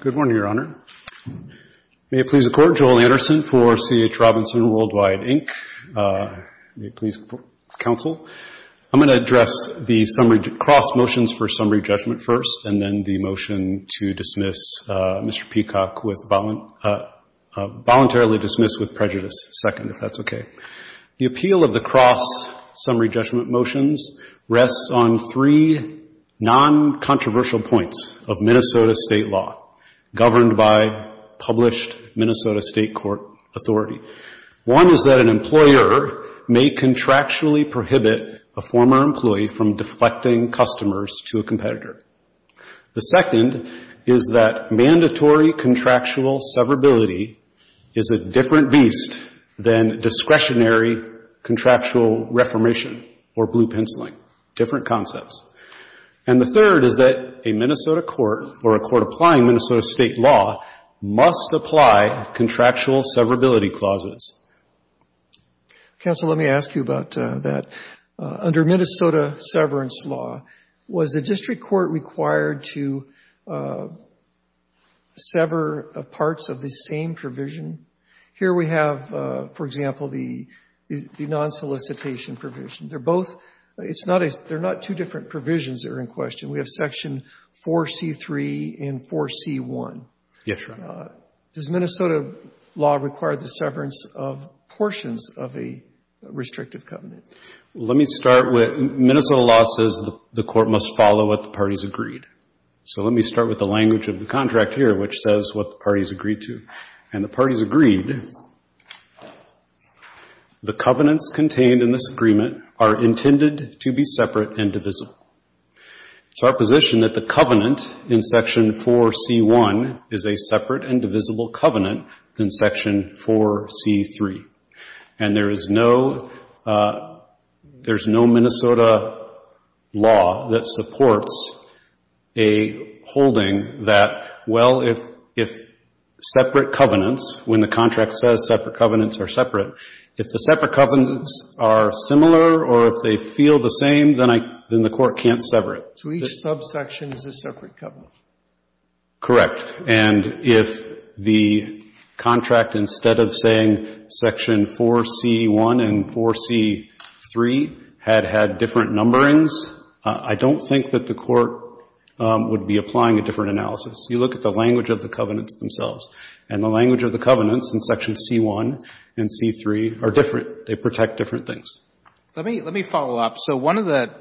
Good morning, Your Honor. May it please the Court, Joel Anderson for C.H. Robinson Worldwide, Inc. May it please the Counsel, I'm going to address the cross motions for summary judgment first, and then the motion to dismiss Mr. Peacock voluntarily dismissed with prejudice second, if that's okay. The appeal of the cross summary judgment motions rests on three non-controversial points of Minnesota state law governed by published Minnesota state court authority. One is that an employer may contractually prohibit a former employee from deflecting customers to a competitor. The second is that mandatory contractual severability is a different beast than discretionary contractual reformation or blue penciling, different concepts. And the third is that a Minnesota court or a court applying Minnesota state law must apply contractual severability clauses. Counsel, let me ask you about that. Under Minnesota severance law, was the district court required to sever parts of the same provision? Here we have, for example, the non-solicitation provision. They're both, they're not two different provisions that are in question. We have section 4C3 and 4C1. Yes, Your Honor. Does Minnesota law require the severance of portions of a restrictive covenant? Let me start with Minnesota law says the court must follow what the parties agreed. So let me start with the language of the contract here, which says what the parties agreed to. And the parties agreed, the covenants contained in this agreement are intended to be separate and divisible. It's our position that the covenant in section 4C1 is a separate and divisible covenant in section 4C3. And there is no Minnesota law that supports a holding that, well, if separate covenants, when the contract says separate covenants are separate, if the separate covenants are similar or if they feel the same, then I, then the court can't sever it. So each subsection is a separate covenant? Correct. And if the contract, instead of saying section 4C1 and 4C3 had had different numberings, I don't think that the court would be applying a different analysis. You look at the language of the covenants themselves. And the language of the covenants in section C1 and C3 are different. They protect different things. Let me follow up. So one of the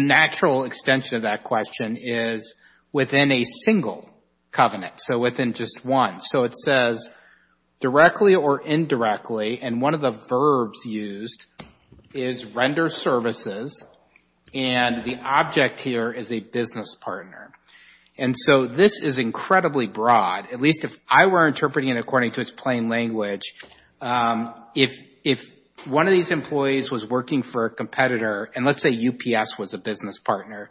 natural extension of that question is within a single covenant, so within just one. So it says directly or indirectly, and one of the verbs used is render services, and the object here is a business partner. And so this is incredibly broad. At least if I were interpreting it according to its plain language, if one of these employees was working for a competitor, and let's say UPS was a business partner,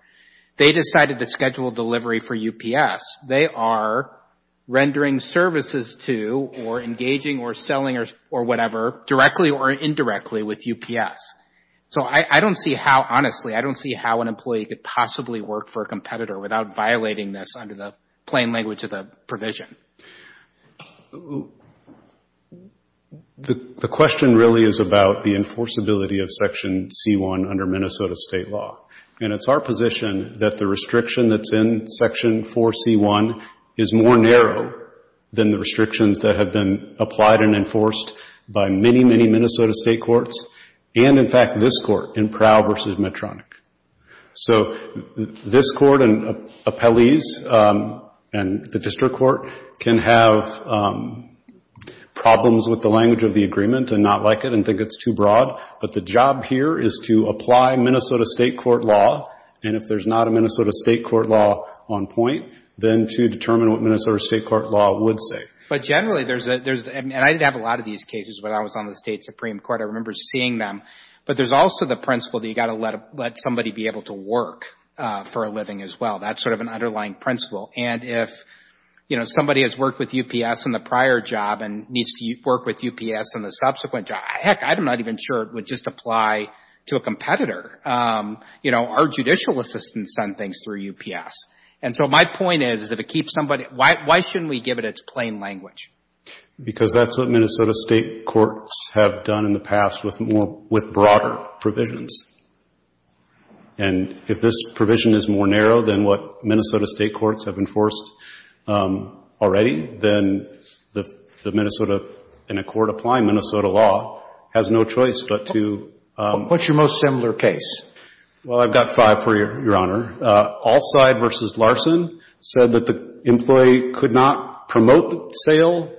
they decided to schedule delivery for UPS, they are rendering services to or engaging or selling or whatever directly or indirectly with UPS. So I don't see how, honestly, I don't see how an employee could possibly work for a competitor without violating this under the plain language of the provision. Okay. The question really is about the enforceability of section C1 under Minnesota state law. And it's our position that the restriction that's in section 4C1 is more narrow than the restrictions that have been applied and enforced by many, many Minnesota state courts, and in fact this court in Prowl v. Medtronic. So this court and appellees and the district court can have problems with the language of the agreement and not like it and think it's too broad, but the job here is to apply Minnesota state court law, and if there's not a Minnesota state court law on point, then to determine what Minnesota state court law would say. But generally there's, and I didn't have a lot of these cases when I was on the state Supreme Court. I remember seeing them. But there's also the principle that you've got to let somebody be able to work for a living as well. That's sort of an underlying principle. And if, you know, somebody has worked with UPS in the prior job and needs to work with UPS in the subsequent job, heck, I'm not even sure it would just apply to a competitor. You know, our judicial assistants send things through UPS. And so my point is if it keeps somebody, why shouldn't we give it its plain language? Because that's what Minnesota state courts have done in the past with broader provisions. And if this provision is more narrow than what Minnesota state courts have enforced already, then the Minnesota, in a court applying Minnesota law, has no choice but to... What's your most similar case? Well, I've got five for you, Your Honor. Offside v. Larson said that the employee could not promote the sale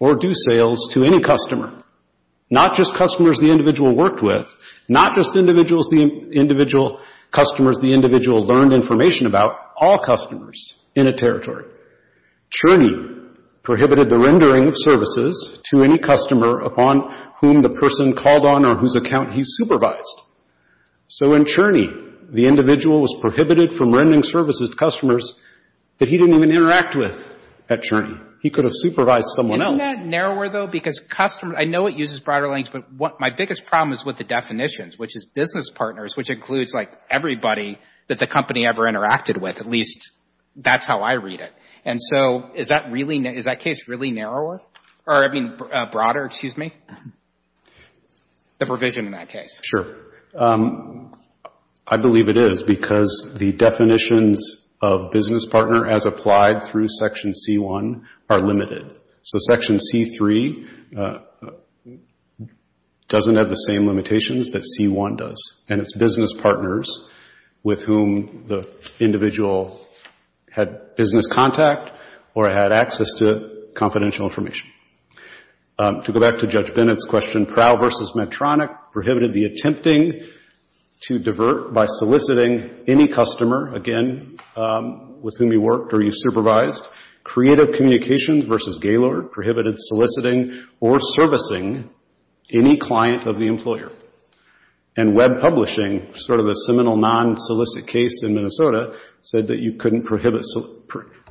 or do sales to any customer, not just customers the individual worked with, not just customers the individual learned information about, all customers in a territory. Cherney prohibited the rendering of services to any customer upon whom the person called on or whose account he supervised. So in Cherney, the individual was prohibited from rendering services to customers that he didn't even interact with at Cherney. He could have supervised someone else. Isn't that narrower, though? Because customers, I know it uses broader language, but my biggest problem is with the definitions, which is business partners, which includes, like, everybody that the company ever interacted with, at least that's how I read it. And so is that really, is that case really narrower? Or, I mean, broader, excuse me? The provision in that case. Sure. I believe it is because the definitions of business partner as applied through Section C-1 are limited. So Section C-3 doesn't have the same limitations that C-1 does, and it's business partners with whom the individual had business contact or had access to confidential information. To go back to Judge Bennett's question, Prowl v. Medtronic prohibited the attempting to divert by soliciting any customer, again, with whom he worked or you supervised. Creative Communications v. Gaylord prohibited soliciting or servicing any client of the employer. And Web Publishing, sort of a seminal non-solicit case in Minnesota, said that you couldn't prohibit,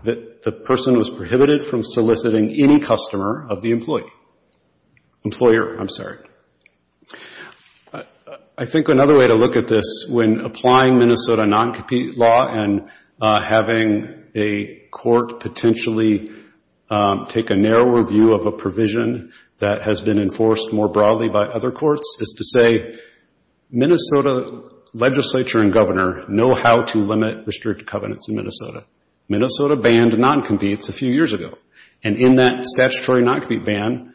that the person was prohibited from soliciting any customer of the employee, employer, I'm sorry. I think another way to look at this when applying Minnesota non-compete law and having a court potentially take a narrower view of a provision that has been enforced more broadly by other courts is to say, Minnesota legislature and governor know how to limit restricted covenants in Minnesota. Minnesota banned non-competes a few years ago. And in that statutory non-compete ban,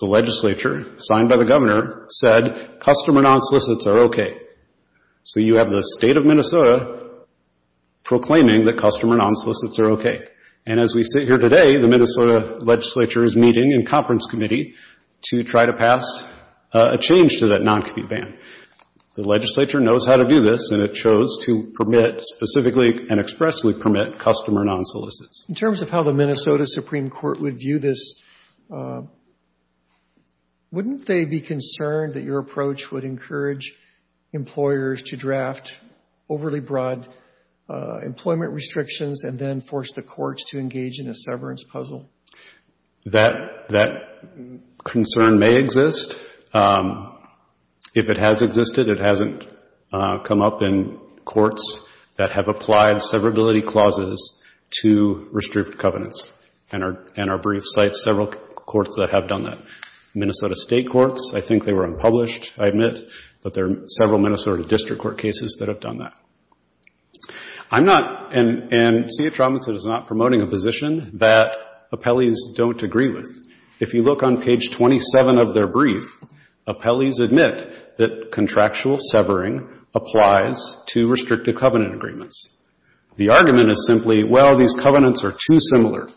the legislature, signed by the governor, said customer non-solicits are okay. So you have the state of Minnesota proclaiming that customer non-solicits are okay. And as we sit here today, the Minnesota legislature is meeting in conference committee to try to pass a change to that non-compete ban. The legislature knows how to do this, and it chose to permit specifically and expressly permit customer non-solicits. In terms of how the Minnesota Supreme Court would view this, wouldn't they be concerned that your approach would encourage employers to draft overly broad employment restrictions and then force the courts to engage in a severance puzzle? That concern may exist. If it has existed, it hasn't come up in courts that have applied severability clauses to restricted covenants. And our brief cites several courts that have done that. Minnesota state courts, I think they were unpublished, I admit, but there are several Minnesota district court cases that have done that. I'm not, and CH Robinson is not promoting a position that appellees don't agree with. If you look on page 27 of their brief, appellees admit that contractual severing applies to restricted covenant agreements. The argument is simply, well, these covenants are too similar,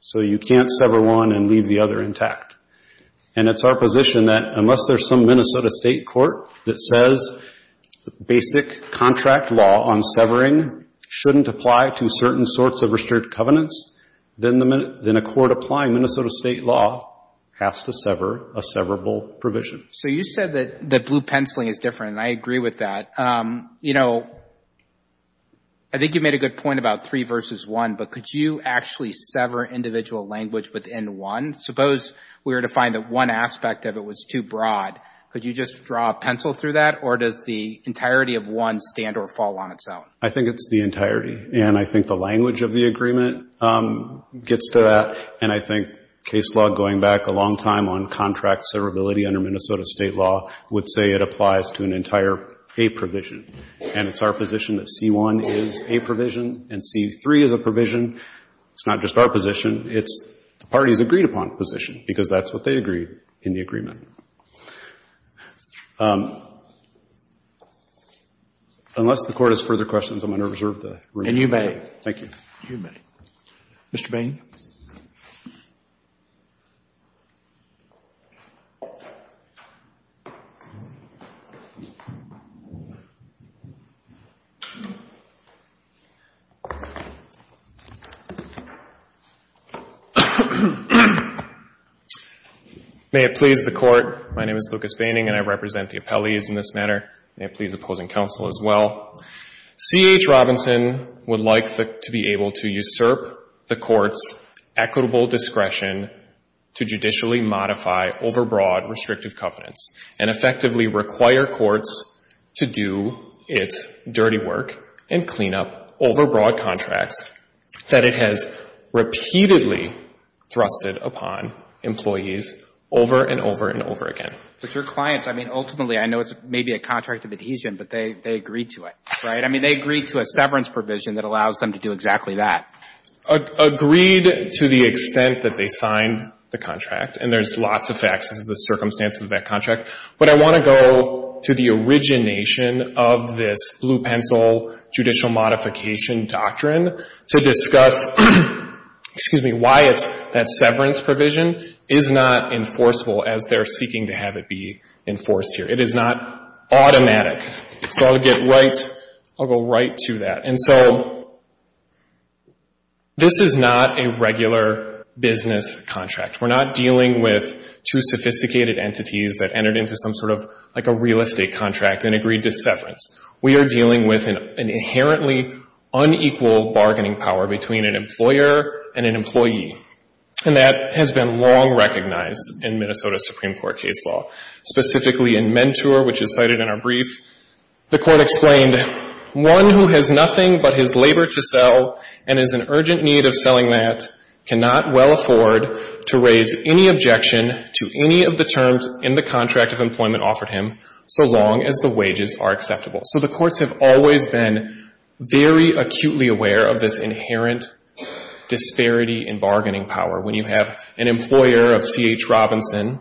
so you can't sever one and leave the other intact. And it's our position that unless there's some Minnesota state court that says basic contract law on severing shouldn't apply to certain sorts of restricted covenants, then a court applying Minnesota state law has to sever a severable provision. So you said that blue penciling is different, and I agree with that. You know, I think you made a good point about three versus one, but could you actually sever individual language within one? Suppose we were to find that one aspect of it was too broad. Could you just draw a pencil through that, or does the entirety of one stand or fall on its own? I think it's the entirety, and I think the language of the agreement gets to that, and I think case law going back a long time on contract severability under Minnesota state law would say it applies to an entire A provision, and it's our position that C-1 is a provision and C-3 is a provision. It's not just our position. It's the party's agreed upon position because that's what they agreed in the agreement. Unless the Court has further questions, I'm going to reserve the room. And you may. Thank you. You may. Mr. Bain. May it please the Court. My name is Lucas Baining, and I represent the appellees in this matter. May it please the opposing counsel as well. C.H. Robinson would like to be able to usurp the Court's equitable discretion to judicially modify overbroad restrictive covenants and effectively require courts to do its dirty work and clean up overbroad contracts that it has repeatedly thrusted upon employees over and over and over again. But your clients, I mean, ultimately, I know it's maybe a contract of adhesion, but they agreed to it, right? I mean, they agreed to a severance provision that allows them to do exactly that. Agreed to the extent that they signed the contract, and there's lots of facts as to the circumstances of that contract. But I want to go to the origination of this Blue Pencil Judicial Modification Doctrine to discuss why that severance provision is not enforceable as they're seeking to have it be enforced here. It is not automatic. So I'll go right to that. And so this is not a regular business contract. We're not dealing with two sophisticated entities that entered into some sort of like a real estate contract and agreed to severance. We are dealing with an inherently unequal bargaining power between an employer and an employee, and that has been long recognized in Minnesota Supreme Court case law, specifically in Mentor, which is cited in our brief. The Court explained, So the courts have always been very acutely aware of this inherent disparity in bargaining power. When you have an employer of C.H. Robinson,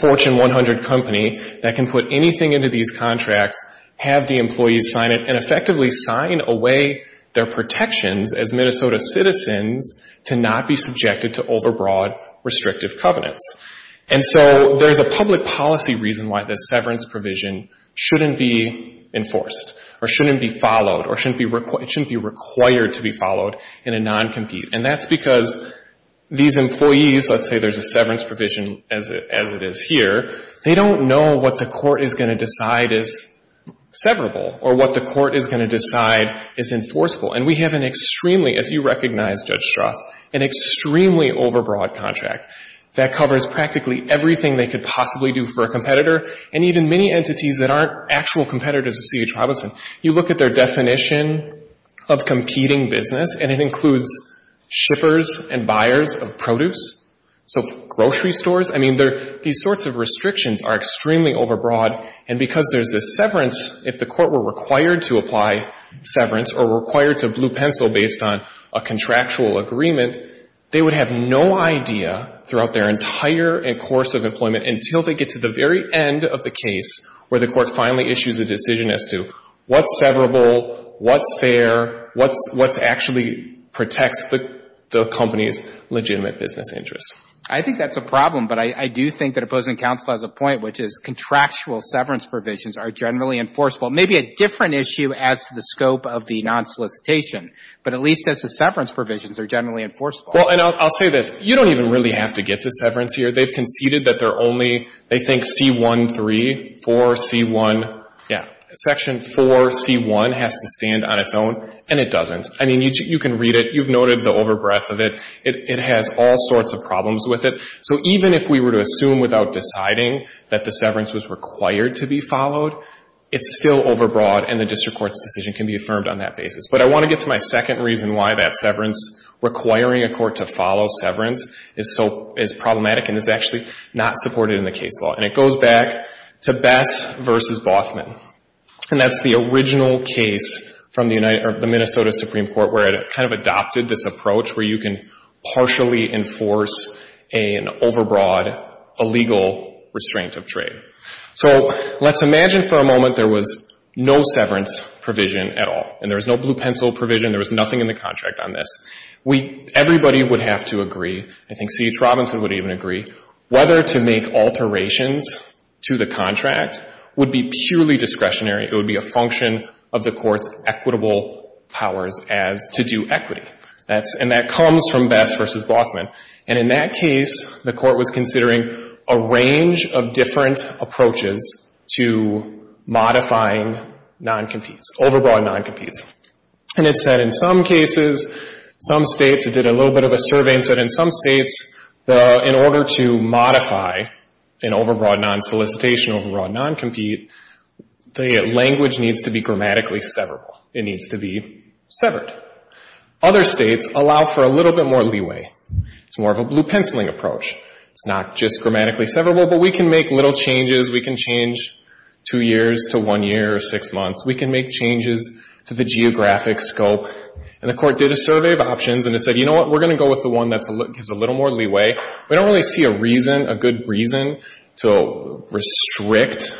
Fortune 100 Company, that can put anything into these contracts, have the employees sign them, and effectively sign away their protections as Minnesota citizens to not be subjected to overbroad restrictive covenants. And so there's a public policy reason why this severance provision shouldn't be enforced or shouldn't be followed or shouldn't be required to be followed in a non-compete. And that's because these employees, let's say there's a severance provision as it is here, they don't know what the court is going to decide is severable or what the court is going to decide is enforceable. And we have an extremely, as you recognize, Judge Strauss, an extremely overbroad contract that covers practically everything they could possibly do for a competitor and even many entities that aren't actual competitors of C.H. Robinson. You look at their definition of competing business, and it includes shippers and buyers of produce. So grocery stores, I mean, these sorts of restrictions are extremely overbroad. And because there's a severance, if the court were required to apply severance or required to blue pencil based on a contractual agreement, they would have no idea throughout their entire course of employment until they get to the very end of the case where the court finally issues a decision as to what's severable, what's fair, what's actually protects the company's legitimate business interests. I think that's a problem. But I do think that opposing counsel has a point, which is contractual severance provisions are generally enforceable. It may be a different issue as to the scope of the non-solicitation, but at least as to severance provisions are generally enforceable. Well, and I'll say this. You don't even really have to get to severance here. They've conceded that they're only they think C.1.3, 4, C.1. Section 4.C.1 has to stand on its own, and it doesn't. I mean, you can read it. You've noted the overbreath of it. It has all sorts of problems with it. So even if we were to assume without deciding that the severance was required to be followed, it's still overbroad, and the district court's decision can be affirmed on that basis. But I want to get to my second reason why that severance, requiring a court to follow severance, is problematic and is actually not supported in the case law. And it goes back to Bess v. Bothman, and that's the original case from the Minnesota Supreme Court where it kind of adopted this approach where you can partially enforce an overbroad illegal restraint of trade. So let's imagine for a moment there was no severance provision at all, and there was no blue pencil provision. There was nothing in the contract on this. Everybody would have to agree, I think C.H. Robinson would even agree, whether to make alterations to the contract would be purely discretionary. It would be a function of the court's equitable powers as to do equity. And that comes from Bess v. Bothman. And in that case, the court was considering a range of different approaches to modifying noncompetes, overbroad noncompetes. And it said in some cases, some States, it did a little bit of a survey and said in some States, in order to modify an overbroad nonsolicitation, overbroad noncompete, the language needs to be grammatically severable. It needs to be severed. Other States allow for a little bit more leeway. It's more of a blue penciling approach. It's not just grammatically severable, but we can make little changes. We can change two years to one year or six months. We can make changes to the geographic scope. And the court did a survey of options, and it said, you know what? We're going to go with the one that gives a little more leeway. We don't really see a reason, a good reason, to restrict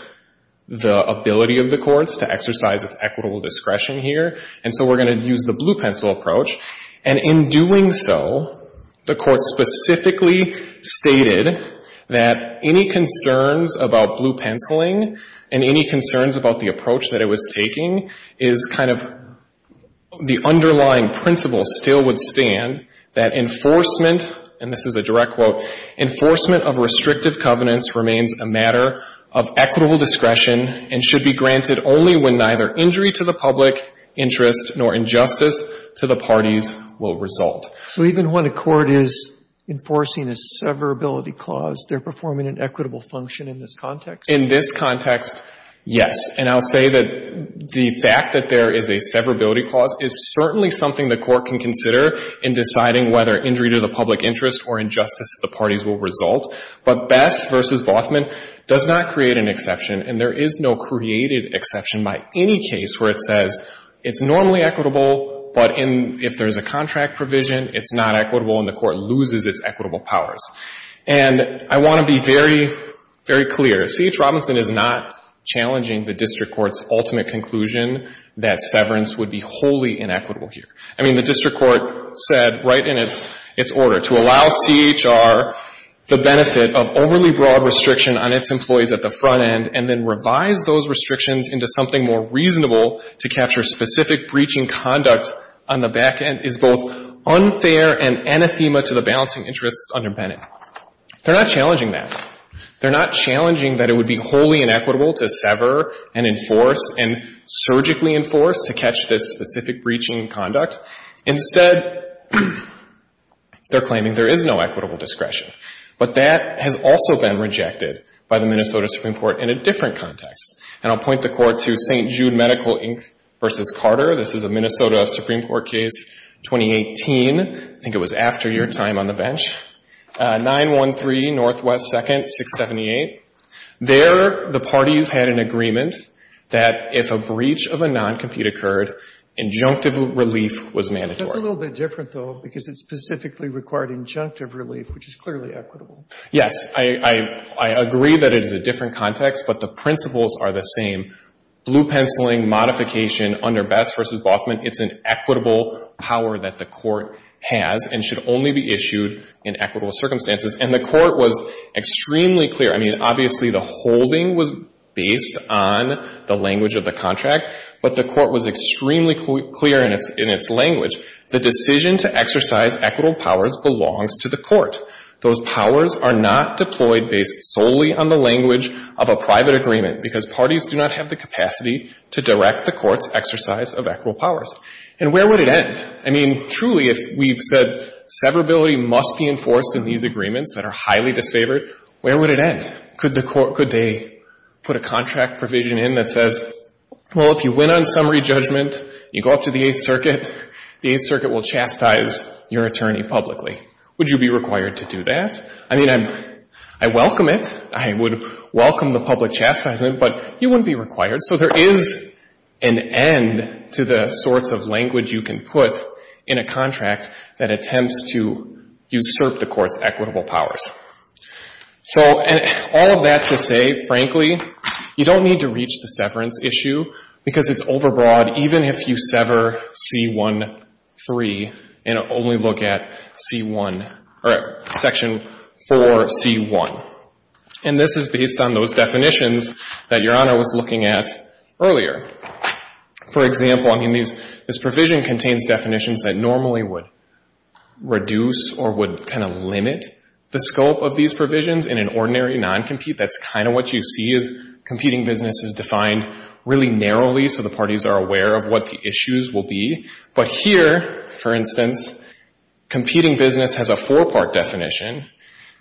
the ability of the courts to exercise its equitable discretion here. And so we're going to use the blue pencil approach. And in doing so, the court specifically stated that any concerns about blue penciling and any concerns about the approach that it was taking is kind of the underlying principle still would stand that enforcement, and this is a direct quote, enforcement of restrictive covenants remains a matter of equitable discretion and should be granted only when neither injury to the public interest nor injustice to the parties will result. So even when a court is enforcing a severability clause, they're performing an equitable function in this context? In this context, yes. And I'll say that the fact that there is a severability clause is certainly something the court can consider in deciding whether injury to the public interest or injustice to the parties will result. But Besh v. Bothman does not create an exception, and there is no created exception by any case where it says it's normally equitable, but if there's a contract provision, it's not equitable, and the court loses its equitable powers. And I want to be very, very clear. C.H. Robinson is not challenging the district court's ultimate conclusion that severance would be wholly inequitable here. I mean, the district court said right in its order, to allow CHR the benefit of overly broad restriction on its employees at the front end and then revise those restrictions into something more reasonable to capture specific breaching conduct on the back end is both unfair and anathema to the balancing interests under Bennett. They're not challenging that. They're not challenging that it would be wholly inequitable to sever and enforce and surgically enforce to catch this specific breaching conduct. Instead, they're claiming there is no equitable discretion. But that has also been rejected by the Minnesota Supreme Court in a different context. And I'll point the court to St. Jude Medical, Inc. v. Carter. This is a Minnesota Supreme Court case, 2018. I think it was after your time on the bench. 913 Northwest 2nd, 678. There, the parties had an agreement that if a breach of a noncompete occurred, injunctive relief was mandatory. That's a little bit different, though, because it specifically required injunctive relief, which is clearly equitable. Yes. I agree that it is a different context, but the principles are the same. Blue penciling modification under Best v. Boffman, it's an equitable power that the court has and should only be issued in equitable circumstances. And the court was extremely clear. I mean, obviously, the holding was based on the language of the contract, but the court was extremely clear in its language. The decision to exercise equitable powers belongs to the court. Those powers are not deployed based solely on the language of a private agreement because parties do not have the capacity to direct the court's exercise of equitable powers. And where would it end? I mean, truly, if we've said severability must be enforced in these agreements that are highly disfavored, where would it end? Could they put a contract provision in that says, well, if you win on summary judgment, you go up to the Eighth Circuit, the Eighth Circuit will chastise your attorney publicly. Would you be required to do that? I mean, I welcome it. I would welcome the public chastisement, but you wouldn't be required. So there is an end to the sorts of language you can put in a contract that attempts to usurp the court's equitable powers. So all of that to say, frankly, you don't need to reach the severance issue because it's overbroad even if you sever C-1-3 and only look at C-1 or Section 4C-1. And this is based on those definitions that Your Honor was looking at earlier. For example, I mean, this provision contains definitions that normally would reduce or would kind of limit the scope of these provisions in an ordinary non-compete. That's kind of what you see is competing business is defined really narrowly so the parties are aware of what the issues will be. But here, for instance, competing business has a four-part definition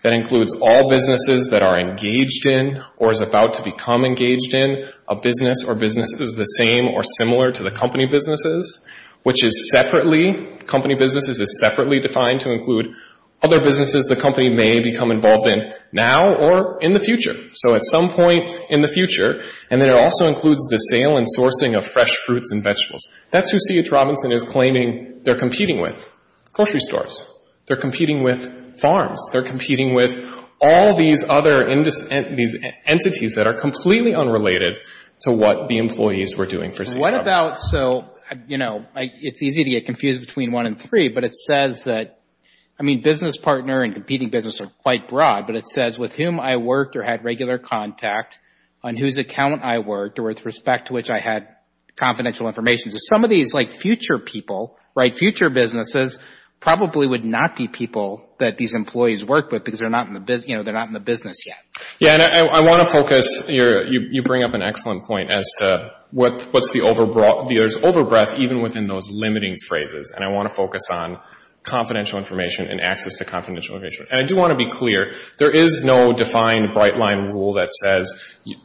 that includes all businesses that are engaged in or is about to become engaged in a business or businesses the same or similar to the company businesses, which is separately, company businesses is separately defined to include other businesses the company may become involved in now or in the future. So at some point in the future. And then it also includes the sale and sourcing of fresh fruits and vegetables. That's who C.H. Robinson is claiming they're competing with, grocery stores. They're competing with farms. They're competing with all these other entities that are completely unrelated to what the employees were doing for C.H. Robinson. What about, so, you know, it's easy to get confused between one and three, but it says that, I mean, business partner and competing business are quite broad, but it says with whom I worked or had regular contact, on whose account I worked, or with respect to which I had confidential information. Some of these like future people, right, future businesses, probably would not be people that these employees work with because they're not in the business yet. Yeah, and I want to focus, you bring up an excellent point as to what's the overbroad, there's overbreath even within those limiting phrases, and I want to focus on confidential information and access to confidential information. And I do want to be clear, there is no defined bright line rule that says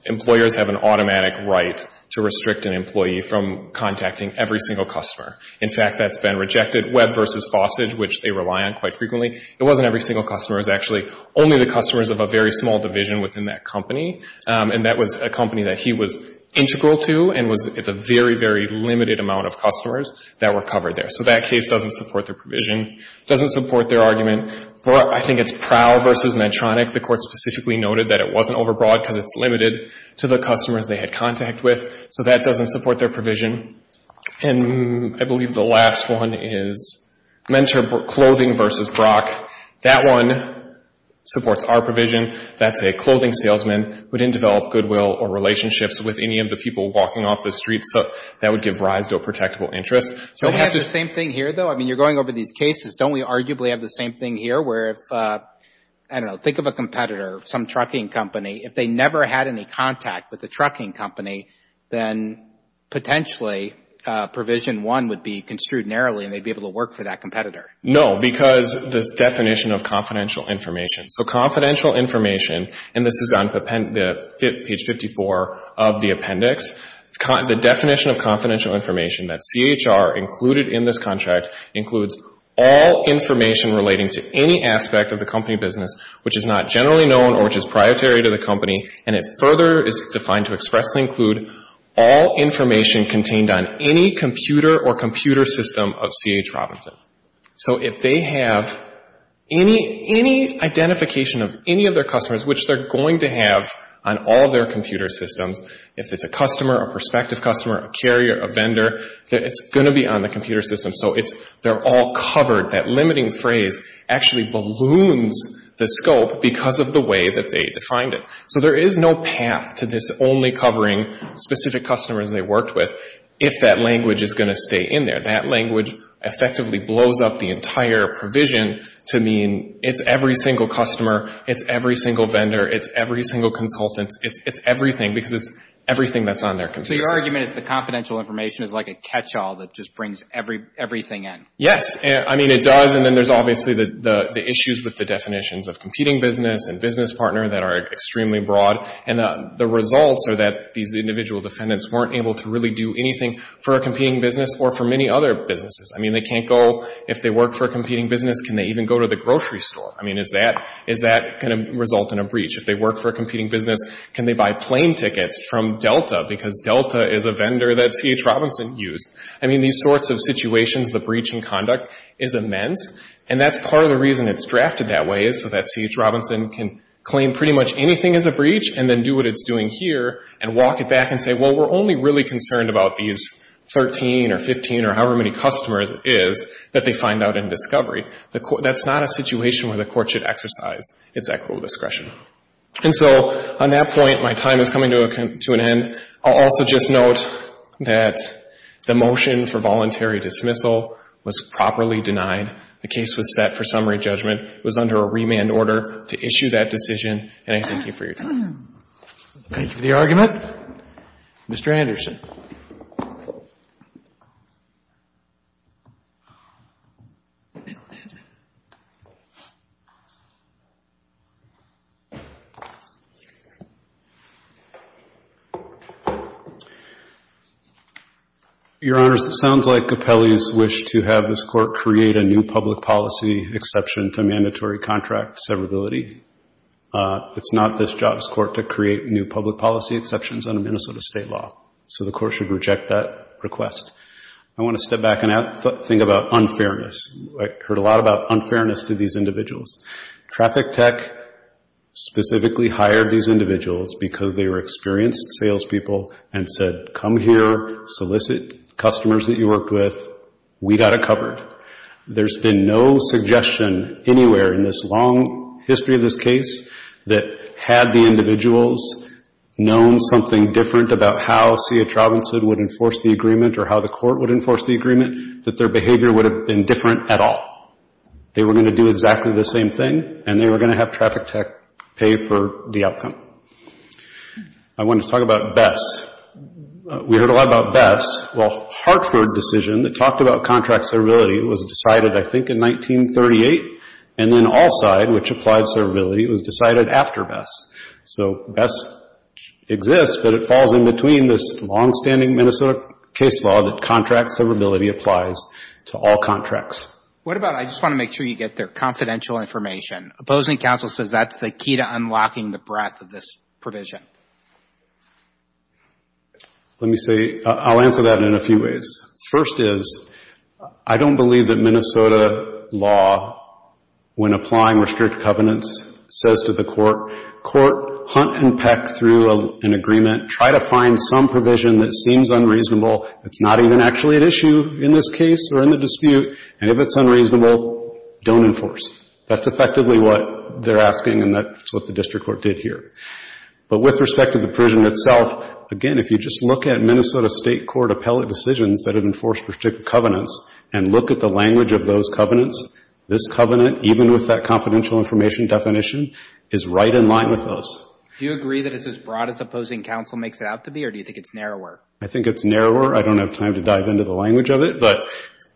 employers have an automatic right to restrict an employee from contacting every single customer. In fact, that's been rejected. Webb v. Fossage, which they rely on quite frequently, it wasn't every single customer, it was actually only the customers of a very small division within that company, and that was a company that he was integral to and was, it's a very, very limited amount of customers that were covered there. So that case doesn't support their provision, doesn't support their argument. But I think it's Prowl v. Medtronic, the court specifically noted that it wasn't overbroad because it's limited to the customers they had contact with, so that doesn't support their provision. And I believe the last one is Mentor Clothing v. Brock. That one supports our provision. That's a clothing salesman who didn't develop goodwill or relationships with any of the people walking off the street, so that would give rise to a protectable interest. So we have the same thing here, though? I mean, you're going over these cases. Don't we arguably have the same thing here where if, I don't know, think of a competitor, some trucking company. If they never had any contact with the trucking company, then potentially provision one would be construed narrowly, and they'd be able to work for that competitor. No, because this definition of confidential information. So confidential information, and this is on page 54 of the appendix, the definition of confidential information that CHR included in this contract includes all information relating to any aspect of the company business which is not generally known or which is prioritary to the company, and it further is defined to expressly include all information contained on any computer or computer system of CH Robinson. So if they have any identification of any of their customers, which they're going to have on all of their computer systems, if it's a customer, a prospective customer, a carrier, a vendor, it's going to be on the computer system. So they're all covered. That limiting phrase actually balloons the scope because of the way that they defined it. So there is no path to this only covering specific customers they worked with if that language is going to stay in there. That language effectively blows up the entire provision to mean it's every single customer, it's every single vendor, it's every single consultant, it's everything because it's everything that's on their computer system. Your argument is the confidential information is like a catch-all that just brings everything in. Yes. I mean, it does, and then there's obviously the issues with the definitions of competing business and business partner that are extremely broad, and the results are that these individual defendants weren't able to really do anything for a competing business or for many other businesses. I mean, they can't go, if they work for a competing business, can they even go to the grocery store? I mean, is that going to result in a breach? If they work for a competing business, can they buy plane tickets from Delta because Delta is a vendor that C.H. Robinson used? I mean, these sorts of situations, the breach in conduct is immense, and that's part of the reason it's drafted that way is so that C.H. Robinson can claim pretty much anything as a breach and then do what it's doing here and walk it back and say, well, we're only really concerned about these 13 or 15 or however many customers it is that they find out in discovery. That's not a situation where the court should exercise its equitable discretion. And so on that point, my time is coming to an end. I'll also just note that the motion for voluntary dismissal was properly denied. The case was set for summary judgment. It was under a remand order to issue that decision, and I thank you for your time. Thank you for the argument. Mr. Anderson. Your Honors, it sounds like Capelli's wished to have this court create a new public policy exception to mandatory contract severability. It's not this job's court to create new public policy exceptions under Minnesota state law, so the court should reject that request. I want to step back and think about unfairness. I heard a lot about unfairness to these individuals. Traffic Tech specifically hired these individuals because they were experienced salespeople and said, come here, solicit customers that you worked with, we got it covered. There's been no suggestion anywhere in this long history of this case that had the individuals known something different about how CH Robinson would enforce the agreement or how the court would enforce the agreement, that their behavior would have been different at all. They were going to do exactly the same thing, and they were going to have Traffic Tech pay for the outcome. I want to talk about BESS. We heard a lot about BESS. Well, Hartford decision that talked about contract severability was decided, I think, in 1938, and then Allside, which applied severability, was decided after BESS. So BESS exists, but it falls in between this longstanding Minnesota case law that contract severability applies to all contracts. What about, I just want to make sure you get there, confidential information? Opposing counsel says that's the key to unlocking the breadth of this provision. Let me say, I'll answer that in a few ways. First is, I don't believe that Minnesota law, when applying restrict covenants, says to the court, court, hunt and peck through an agreement, try to find some provision that seems unreasonable, that's not even actually an issue in this case or in the dispute, and if it's unreasonable, don't enforce. That's effectively what they're asking, and that's what the district court did here. But with respect to the provision itself, again, if you just look at Minnesota state court appellate decisions that have enforced restrict covenants and look at the language of those covenants, this covenant, even with that confidential information definition, is right in line with those. Do you agree that it's as broad as opposing counsel makes it out to be, or do you think it's narrower? I think it's narrower. I don't have time to dive into the language of it. But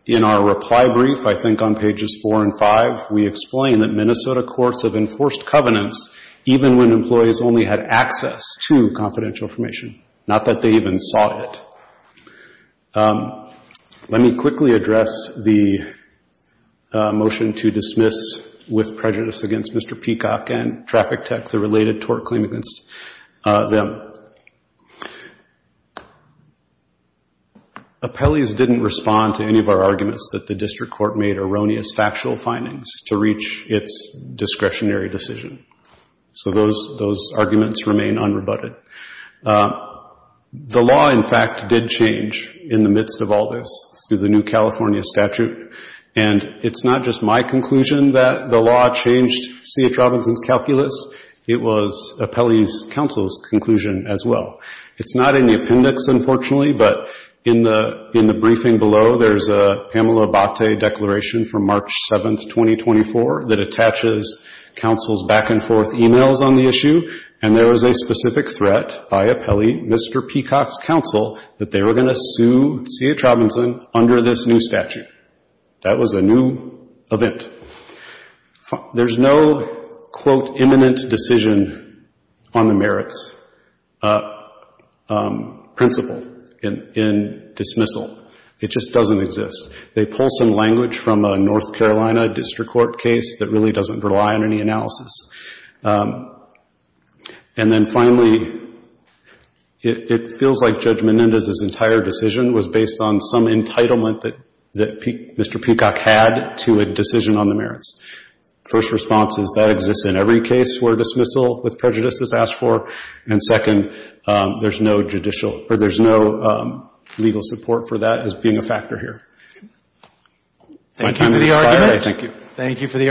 in our reply brief, I think on pages 4 and 5, we explain that Minnesota courts have enforced covenants even when employees only had access to confidential information, not that they even saw it. Let me quickly address the motion to dismiss, with prejudice against Mr. Peacock and Traffic Tech, the related tort claim against them. Appellees didn't respond to any of our arguments that the district court made erroneous factual findings to reach its discretionary decision. So those arguments remain unrebutted. The law, in fact, did change in the midst of all this through the new California statute, and it's not just my conclusion that the law changed C.H. Robinson's calculus. It was Appellee's counsel's conclusion as well. It's not in the appendix, unfortunately, but in the briefing below, there's a Pamela Bachte declaration from March 7, 2024, that attaches counsel's back-and-forth emails on the issue, and there was a specific threat by Appellee, Mr. Peacock's counsel, that they were going to sue C.H. Robinson under this new statute. That was a new event. There's no, quote, imminent decision on the merits principle in dismissal. It just doesn't exist. They pull some language from a North Carolina district court case that really doesn't rely on any analysis. And then finally, it feels like Judge Menendez's entire decision was based on some entitlement that Mr. Peacock had to a decision on the merits. First response is that exists in every case where dismissal with prejudice is asked for, and second, there's no judicial or there's no legal support for that as being a factor here. My time has expired. I thank you. Thank you for the opportunity.